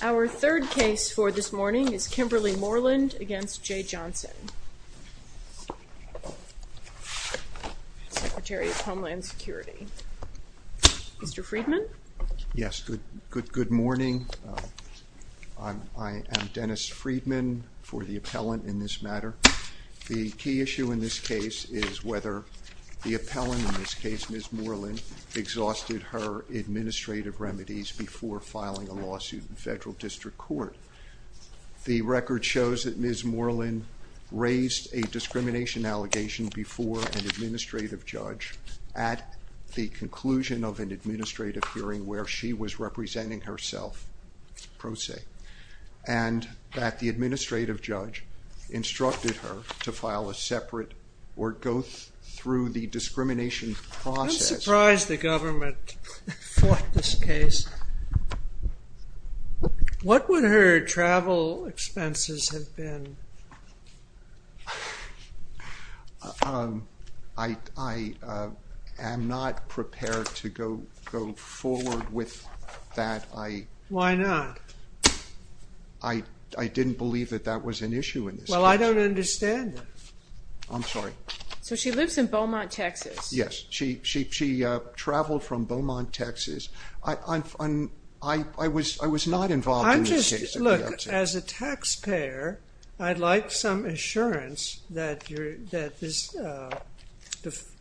Our third case for this morning is Kimberly Moreland v. Jeh Johnson, Secretary of Homeland Security. Mr. Friedman? Yes, good morning. I am Dennis Friedman for the appellant in this matter. The key issue in this case is whether the appellant, Ms. Moreland, exhausted her administrative remedies before filing a lawsuit in federal district court. The record shows that Ms. Moreland raised a discrimination allegation before an administrative judge at the conclusion of an administrative hearing where she was representing herself, pro se, and that the administrative judge instructed her to file a separate or go through the discrimination process. I'm surprised the government fought this case. What would her travel expenses have been? I am not prepared to go forward with that. Why not? I'm not prepared to go forward with that. I didn't believe that that was an issue in this case. Well, I don't understand that. I'm sorry. So, she lives in Beaumont, Texas? Yes. She traveled from Beaumont, Texas. I was not involved in this case. I'm just, look, as a taxpayer, I'd like some assurance that this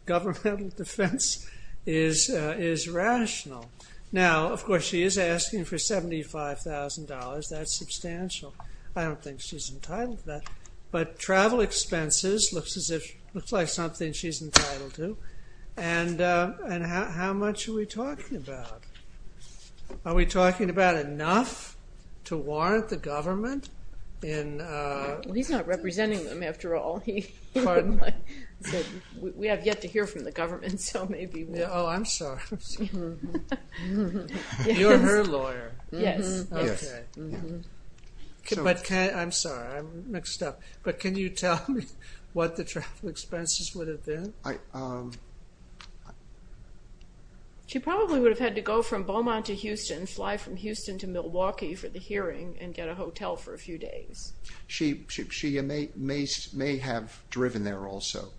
governmental defense is rational. Now, of course, she is asking for $75,000. That's substantial. I don't think she's entitled to that. But travel expenses looks like something she's entitled to. And how much are we talking about? Are we talking about enough to warrant the government? He's not representing them, after all. Pardon? We have yet to hear from the government, so maybe we'll... Oh, I'm sorry. You're her lawyer. Yes. Okay. I'm sorry. I'm mixed up. But can you tell me what the travel expenses would have been? She probably would have had to go from Beaumont to Houston, fly from Houston to Milwaukee for the hearing, and get a hotel for a few days. She may have driven there also.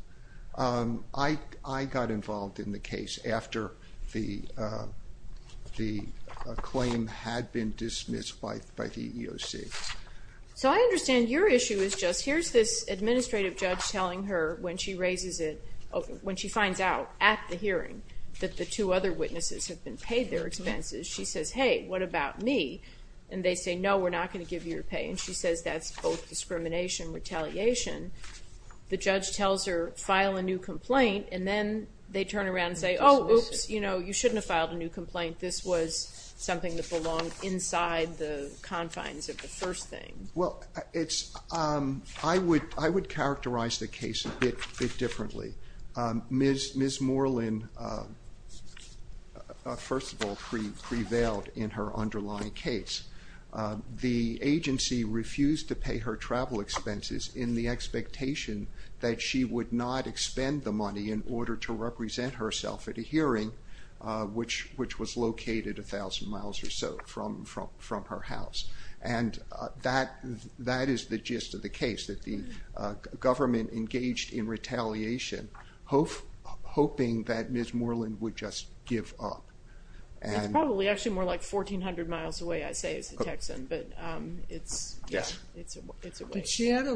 I got involved in the case after the claim had been dismissed by the EEOC. So, I understand your issue is just, here's this administrative judge telling her when she raises it, when she finds out at the hearing that the two other witnesses have been paid their expenses, she says, hey, what about me? And they say, no, we're not going to give you your pay. And she says that's both discrimination and retaliation. The judge tells her, file a new complaint, and then they turn around and say, oh, oops, you shouldn't have filed a new complaint. This was something that belonged inside the confines of the first thing. I would characterize the case a bit differently. Ms. Moreland, first of all, is a woman who prevailed in her underlying case. The agency refused to pay her travel expenses in the expectation that she would not expend the money in order to represent herself at a hearing, which was located a thousand miles or so from her house. And that is the gist of the case, that the government engaged in retaliation, hoping that Ms. Moreland would just give up. It's probably actually more like 1,400 miles away, I'd say, is the Texan, but it's a way. Did she have a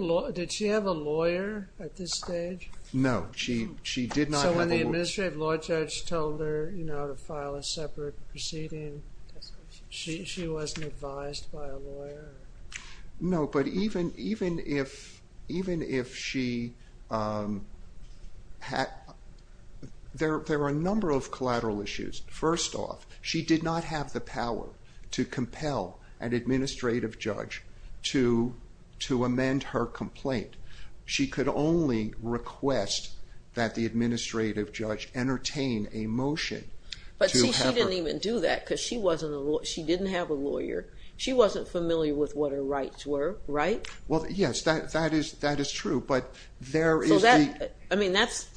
lawyer at this stage? No, she did not have a lawyer. So when the Administrative Law Judge told her to file a separate proceeding, she wasn't advised by a lawyer? No, but even if she had, there were a number of collateral issues. First off, she didn't have the power to compel an Administrative Judge to amend her complaint. She could only request that the Administrative Judge entertain a motion to have her... But see, she didn't even do that, because she didn't have a lawyer. She wasn't familiar with what her rights were, right? Well, yes, that is true, but there is the... I mean, that's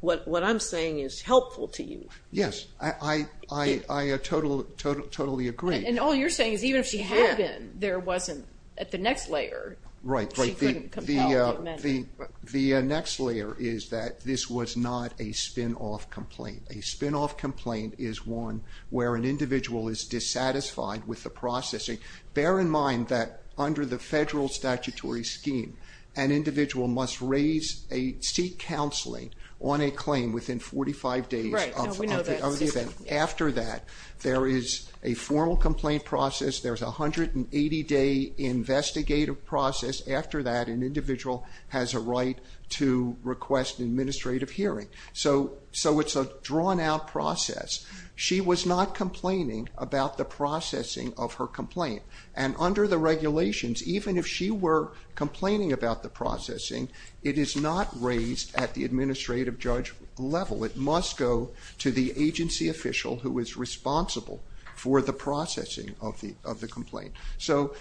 what I'm saying is helpful to you. Yes, I totally agree. And all you're saying is even if she had been, there wasn't, at the next layer, she couldn't compel to amend it. The next layer is that this was not a spinoff complaint. A spinoff complaint is one where an individual is dissatisfied with the processing. Bear in mind that under the federal statutory scheme, an individual must seek counseling on a claim within 45 days of the event. After that, there is a formal complaint process. There's a 180-day investigative process. After that, an individual has a right to request an administrative hearing. So it's a drawn-out process. She was not complaining about the processing of her complaint. And under the law, she was not complaining about the processing. It is not raised at the administrative judge level. It must go to the agency official who is responsible for the processing of the complaint. So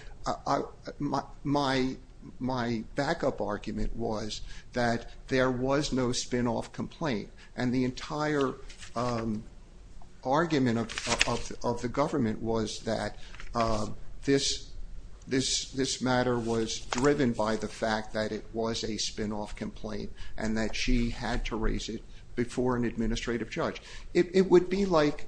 my backup argument was that there was no spinoff complaint, and the entire argument of the government was that this matter was driven by the fact that it was a spinoff complaint and that she had to raise it before an administrative judge. It would be like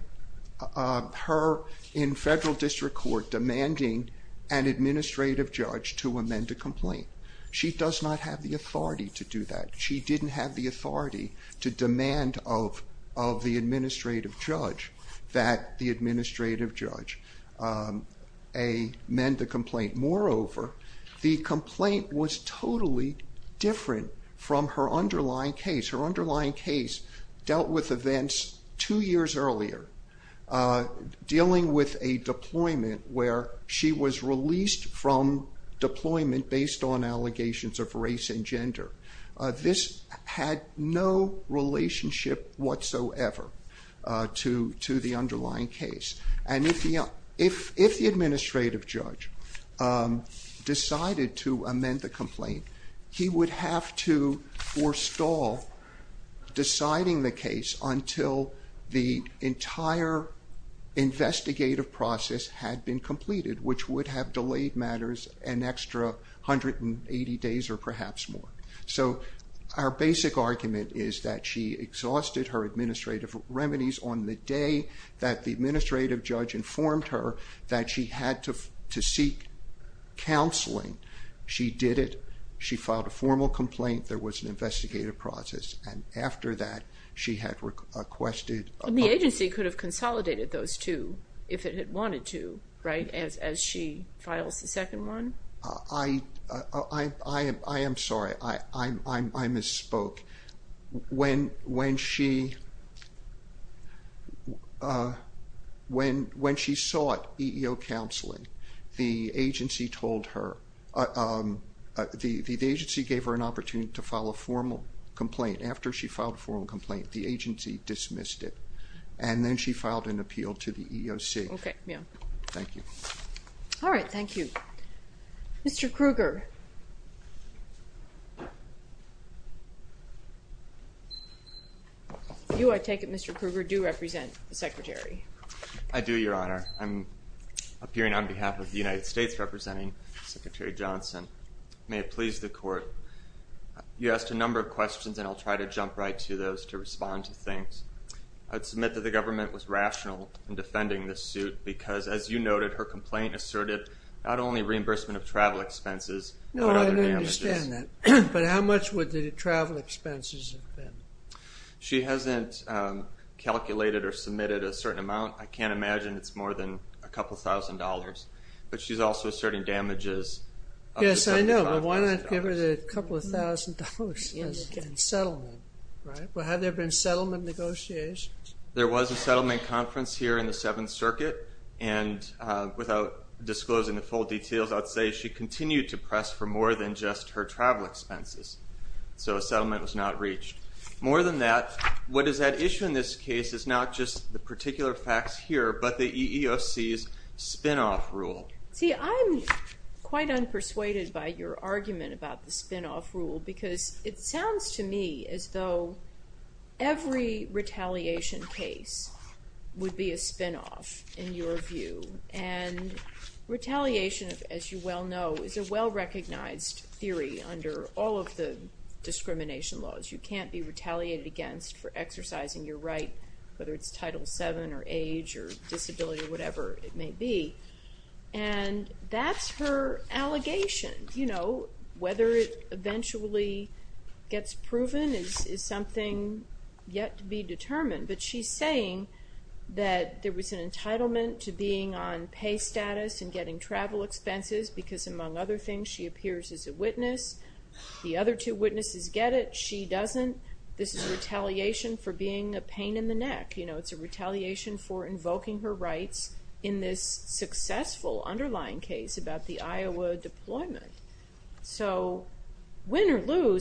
her in federal district court demanding an administrative judge to amend a complaint. She does not have the authority to do that. She didn't have the authority to demand of the administrative judge that the administrative judge amend the complaint. Moreover, the complaint was totally different from her underlying case. Her underlying case dealt with events two years earlier, dealing with a deployment where she was released from deployment based on allegations of race and gender. This had no relationship whatsoever to the underlying case. And if the administrative judge decided to amend the complaint, he would have to forestall deciding the case until the entire investigative process had been completed, which would have delayed matters an extra 180 days or perhaps more. So our basic argument is that she exhausted her administrative remedies on the day that the administrative judge informed her that she had to seek counseling. She did it. She filed a formal complaint. There was an investigative process, and after that she had requested a public hearing. The agency could have consolidated those two if it had wanted to, right, as she files the complaint? I am sorry. I misspoke. When she sought EEO counseling, the agency told her, the agency gave her an opportunity to file a formal complaint. After she filed a formal complaint, the agency dismissed it, and then she filed an appeal to the EEOC. Okay, yeah. Thank you. All right, thank you. Mr. Kruger. You, I take it, Mr. Kruger, do represent the Secretary? I do, Your Honor. I'm appearing on behalf of the United States representing Secretary Johnson. May it please the Court, you asked a number of questions, and I'll try to jump right to those to respond to things. I'd submit that the government was rational in defending this suit because, as you noted, her complaint asserted not only reimbursement of travel expenses but other damages. No, I understand that, but how much would the travel expenses have been? She hasn't calculated or submitted a certain amount. I can't imagine it's more than a couple thousand dollars, but she's also asserting damages up to $75,000. Yes, I know, but why not give her the couple of thousand dollars in settlement, right? Well, have there been settlement negotiations? There was a settlement conference here in the Seventh Circuit, and without disclosing the full details, I'd say she continued to press for more than just her travel expenses, so a settlement was not reached. More than that, what is at issue in this case is not just the particular facts here but the EEOC's spinoff rule. See, I'm quite unpersuaded by your argument about the spinoff rule because it sounds to me as though every retaliation case would be a spinoff, in your view, and retaliation, as you well know, is a well-recognized theory under all of the discrimination laws. You can't be retaliated against for exercising your right, whether it's Title VII or age or disability or whatever it may be, and that's her allegation. You know, whether it eventually gets proven is something yet to be determined, but she's saying that there was an entitlement to being on pay status and getting travel expenses because, among other things, she appears as a witness. The other two witnesses get it. She doesn't. This is retaliation for being a pain in the neck. You know, it's a retaliation for invoking her rights in this case.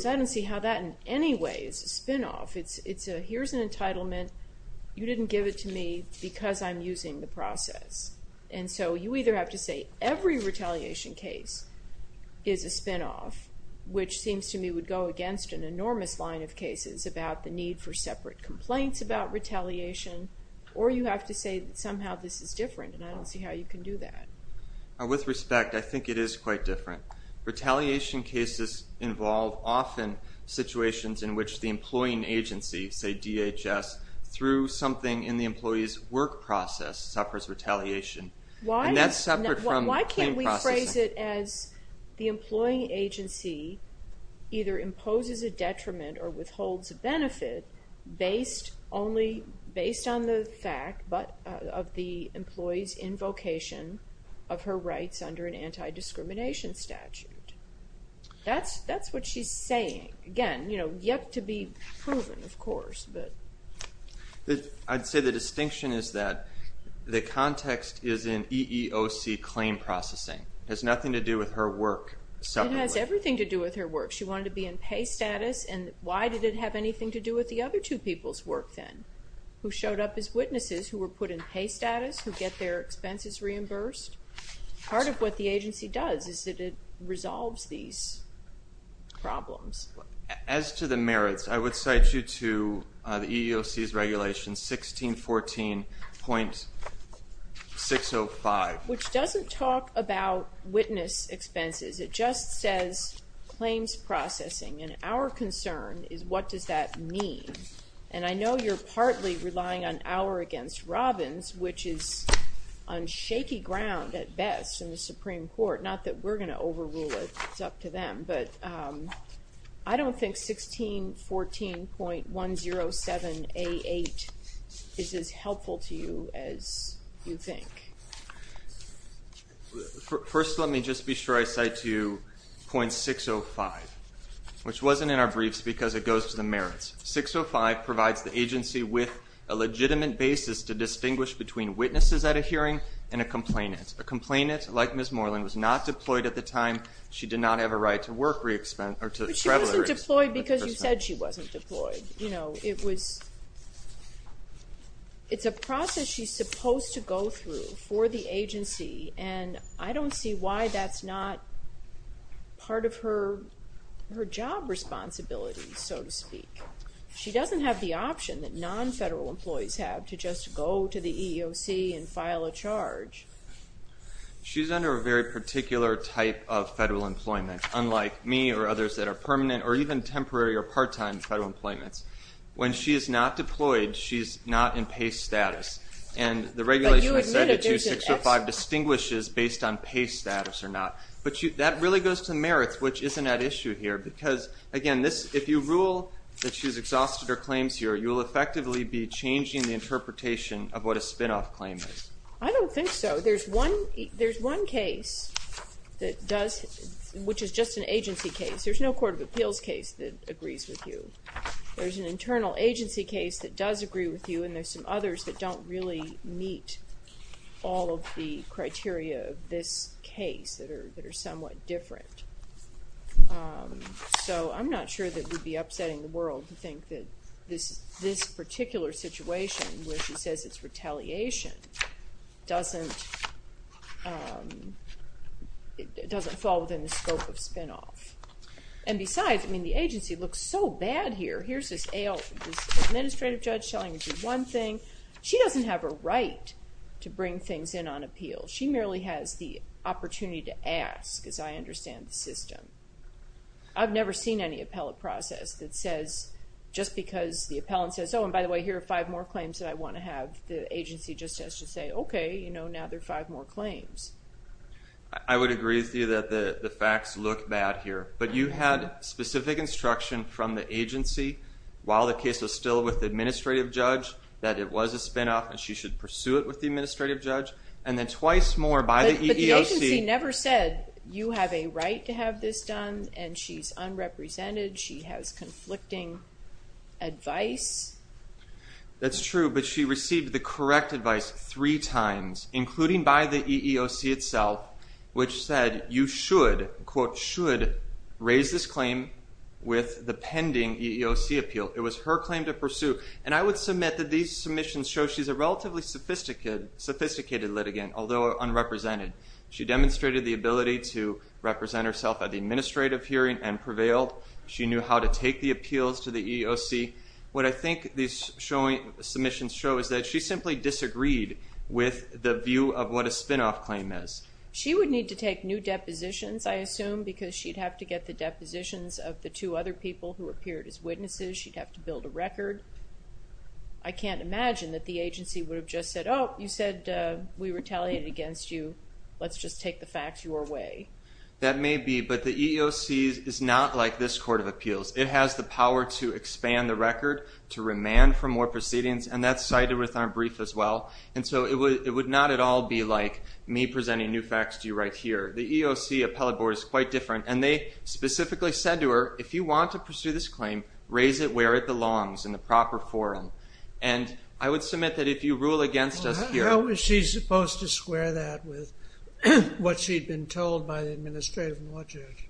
I don't see how that in any way is a spinoff. It's a, here's an entitlement. You didn't give it to me because I'm using the process. And so you either have to say every retaliation case is a spinoff, which seems to me would go against an enormous line of cases about the need for separate complaints about retaliation, or you have to say somehow this is different, and I don't see how you can do that. With respect, I think it is quite different. Retaliation cases involve often situations in which the employing agency, say DHS, through something in the employee's work process suffers retaliation, and that's separate from claim processing. Why can't we phrase it as the employing agency either imposes a detriment or withholds a of her rights under an anti-discrimination statute? That's what she's saying. Again, you know, yet to be proven, of course, but. I'd say the distinction is that the context is in EEOC claim processing. It has nothing to do with her work separately. It has everything to do with her work. She wanted to be in pay status, and why did it have anything to do with the other two people's work then, who showed up as witnesses, who were put in pay status, who get their expenses reimbursed? Part of what the agency does is that it resolves these problems. As to the merits, I would cite you to the EEOC's regulation 1614.605. Which doesn't talk about witness expenses. It just says claims processing, and our concern is what does that mean? And I know you're partly relying on our against Robbins, which is on shaky ground at best in the Supreme Court. Not that we're going to overrule it. It's up to them, but I don't think 1614.107A8 is as helpful to you as you think. First, let me just be sure I cite to you 1614.605, which wasn't in our briefs because it goes to the merits. 1614.605 provides the agency with a legitimate basis to distinguish between witnesses at a hearing and a complainant. A complainant, like Ms. Morland, was not deployed at the time she did not have a right to work re-expense, or to travel free. But she wasn't deployed because you said she wasn't deployed. It's a process she's supposed to go through for the agency, and I don't see why that's not part of her job responsibilities, so to speak. She doesn't have the option that non-federal employees have to just go to the EEOC and file a charge. She's under a very particular type of federal employment, unlike me or others that are permanent or even temporary or part-time federal employments. When she is not deployed, she's not in PACE status. And the regulation says that 1614.605 distinguishes based on PACE status or not. But that really goes to merits, which isn't at issue here. Because, again, if you rule that she's exhausted her claims here, you'll effectively be changing the interpretation of what a spinoff claim is. I don't think so. There's one case that does, which is just an agency case. There's no court of appeals case that agrees with you. There's an internal agency case that does agree with you, and there's some others that don't really meet all of the criteria of this case that are somewhat different. So I'm not sure that we'd be upsetting the world to think that this particular situation, where she says it's retaliation, doesn't fall within the scope of the agency. Besides, the agency looks so bad here. Here's this administrative judge telling you to do one thing. She doesn't have a right to bring things in on appeal. She merely has the opportunity to ask, as I understand the system. I've never seen any appellate process that says, just because the appellant says, oh, and by the way, here are five more claims that I want to have, the agency just has to say, okay, now there are five more claims. I would agree with you that the facts look bad here, but you had specific instruction from the agency, while the case was still with the administrative judge, that it was a spinoff, and she should pursue it with the administrative judge, and then twice more by the EEOC. But the agency never said, you have a right to have this done, and she's unrepresented, she has conflicting advice. That's true, but she received the EEOC itself, which said, you should, quote, should raise this claim with the pending EEOC appeal. It was her claim to pursue, and I would submit that these submissions show she's a relatively sophisticated litigant, although unrepresented. She demonstrated the ability to represent herself at the administrative hearing and prevailed. She knew how to take the appeals to the EEOC. What I think these submissions show is that she simply disagreed with the view of what a spinoff claim is. She would need to take new depositions, I assume, because she'd have to get the depositions of the two other people who appeared as witnesses, she'd have to build a record. I can't imagine that the agency would have just said, oh, you said we retaliated against you, let's just take the facts your way. That may be, but the EEOC is not like this court of appeals. It has the power to expand the record, to remand for more proceedings, and that's cited with our brief as well. And so it would not at all be like me presenting new facts to you right here. The EEOC appellate board is quite different, and they specifically said to her, if you want to pursue this claim, raise it where it belongs, in the proper forum. And I would submit that if you rule against us here... How was she supposed to square that with what she'd been told by the administrative law judge?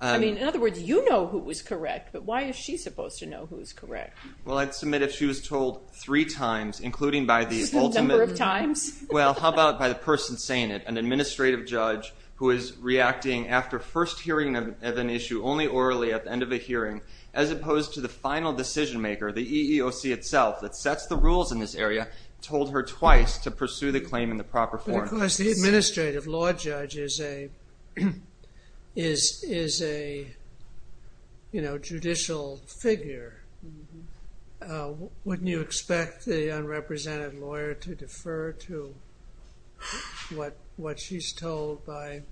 I mean, in other words, you know who was correct, but why is she supposed to know who's correct? Well, I'd submit if she was told three times, including by the ultimate... The number of times? Well, how about by the person saying it? An administrative judge who is reacting after first hearing of an issue only orally at the end of a hearing, as opposed to the final decision maker, the EEOC itself, that sets the rules in this area, told her twice to pursue the claim in the proper forum. But of course, the administrative law judge is a judicial figure. Wouldn't you expect the unrepresented lawyer to defer to what she's told by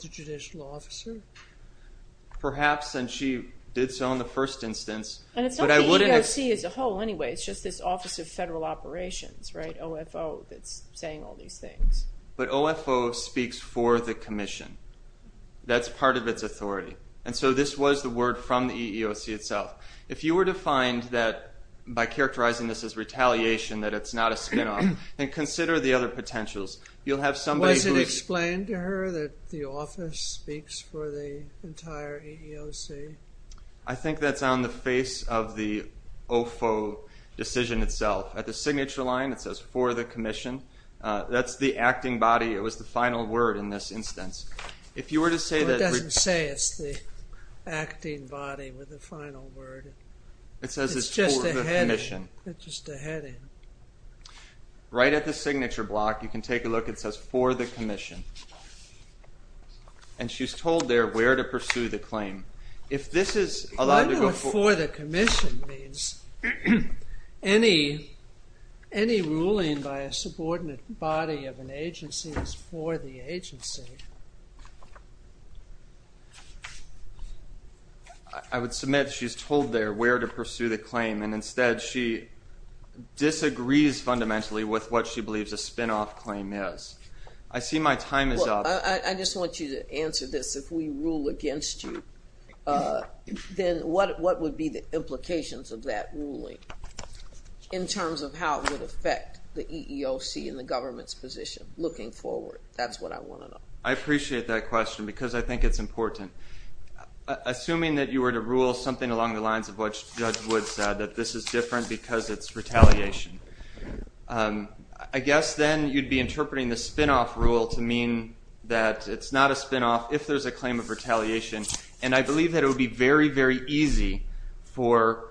the judicial officer? Perhaps, and she did so in the first instance. And it's not the EEOC as a whole, anyway. It's just this Office of Federal Operations, right, saying all these things. But OFO speaks for the commission. That's part of its authority. And so, this was the word from the EEOC itself. If you were to find that, by characterizing this as retaliation, that it's not a spin-off, then consider the other potentials. You'll have somebody who... Was it explained to her that the office speaks for the entire EEOC? I think that's on the face of the OFO decision itself. At the signature line, it says, for the commission. That's the acting body. It was the final word in this instance. If you were to say that... It doesn't say it's the acting body with the final word. It says it's for the commission. It's just a heading. Right at the signature block, you can take a look. It says, for the commission. And she's told there where to pursue the claim. If this is allowed to go for... I wonder what for the commission means. Any ruling by a subordinate body of an agency is for the agency. I would submit she's told there where to pursue the claim. And instead, she disagrees fundamentally with what she believes a spin-off claim is. I see my time is up. I just want you to answer this. If we rule against you, then what would be the implications of that ruling in terms of how it would affect the EEOC and the government's position looking forward? That's what I want to know. I appreciate that question because I think it's important. Assuming that you were to rule something along the lines of what Judge Wood said, that this is different because it's retaliation. I guess then you'd be interpreting the spin-off rule to mean that it's not a spin-off if there's a claim of retaliation. And I believe that it would be very, very easy for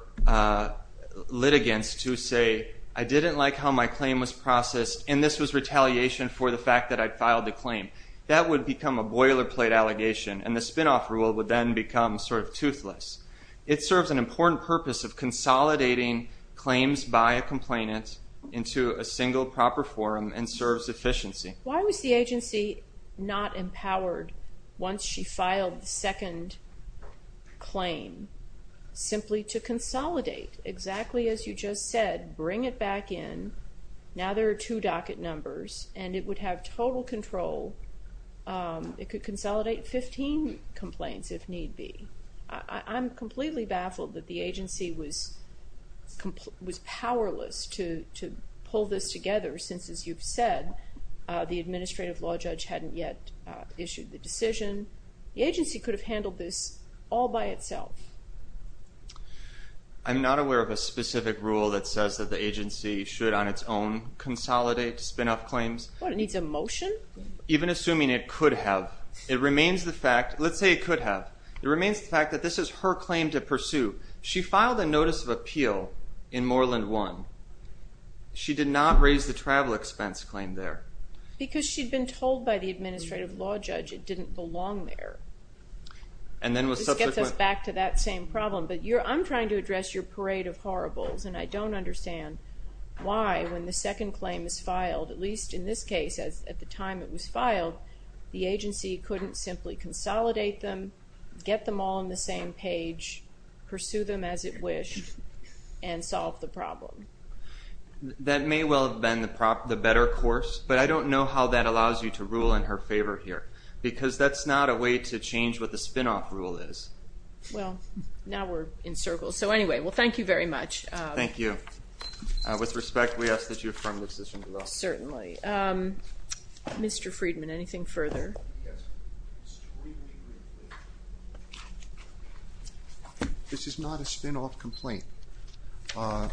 litigants to say, I didn't like how my claim was processed, and this was retaliation for the fact that I'd filed the claim. That would become a boilerplate allegation. And the spin-off rule would then become sort of toothless. It serves an important purpose of consolidating claims by a complainant into a single proper forum and serves efficiency. Why was the agency not empowered once she filed the second claim simply to consolidate exactly as you just said, bring it back in. Now there are two docket numbers and it would have total control. It could consolidate 15 complaints if need be. I'm completely baffled that the agency was powerless to pull this together since, as you've said, the administrative law judge hadn't yet issued the decision. The agency could have handled this all by itself. I'm not aware of a specific rule that says that the agency should on its own consolidate spin-off claims. What, it needs a motion? Even assuming it could have. It remains the fact, let's say it could have. It remains the fact that this is her claim to pursue. She filed a notice of appeal in Moreland 1. She did not raise the travel expense claim there. Because she'd been told by the administrative law judge it didn't belong there. And then was subsequently... This gets us back to that same problem. But I'm trying to address your parade of horribles and I don't understand why when the second claim is filed, at least in this case, at the time it was filed, the agency couldn't simply consolidate them, get them all on the same page, pursue them as it wished, and solve the problem. That may well have been the better course, but I don't know how that allows you to rule in her favor here. Because that's not a way to change what the spin-off rule is. Well, now we're in circles. So anyway, well thank you very much. Thank you. With respect, we ask that you affirm the decision as well. Certainly. Mr. Friedman, anything further? This is not a spin-off complaint.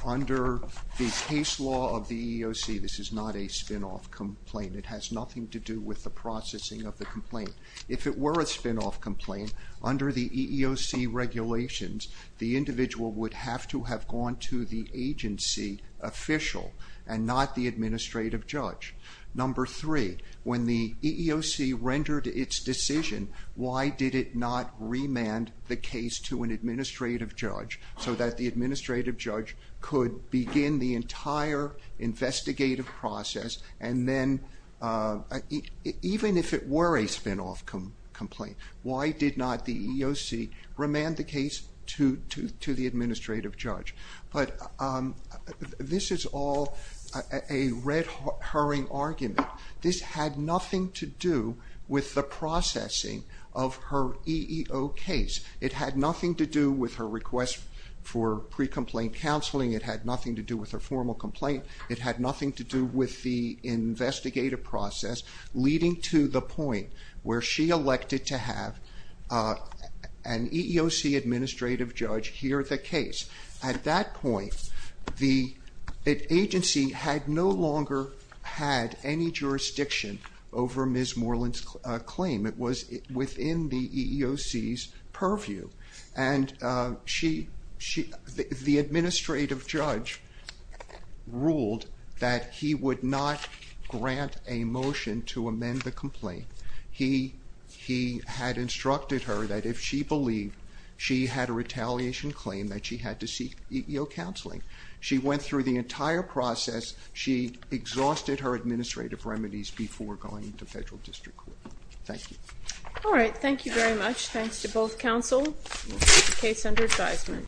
Under the case law of the EEOC, this is not a spin-off complaint. It has nothing to do with the processing of the complaint. If it were a spin-off complaint, under the EEOC regulations, the individual would have to have gone to the agency official and not the administrative judge. Number three, when the EEOC rendered its decision, why did it not remand the case to an administrative judge so that the administrative judge could begin the entire investigative process and then, even if it were a spin-off complaint, why did not the EEOC remand the case to the administrative judge? But this is all a red herring argument. This had nothing to do with the processing of her EEO case. It had nothing to do with her request for pre-complaint counseling. It had nothing to do with her formal complaint. It had nothing to do with the investigative process, leading to the point where she elected to have an EEOC administrative judge hear the case. At that point, the agency had no longer had any jurisdiction over Ms. Moreland's claim. It was within the EEOC's purview, and the administrative judge ruled that he would not grant a motion to amend the complaint. He had instructed her that if she believed she had a retaliation claim, that she went through the entire process. She exhausted her administrative remedies before going to federal district court. Thank you. All right, thank you very much. Thanks to both counsel.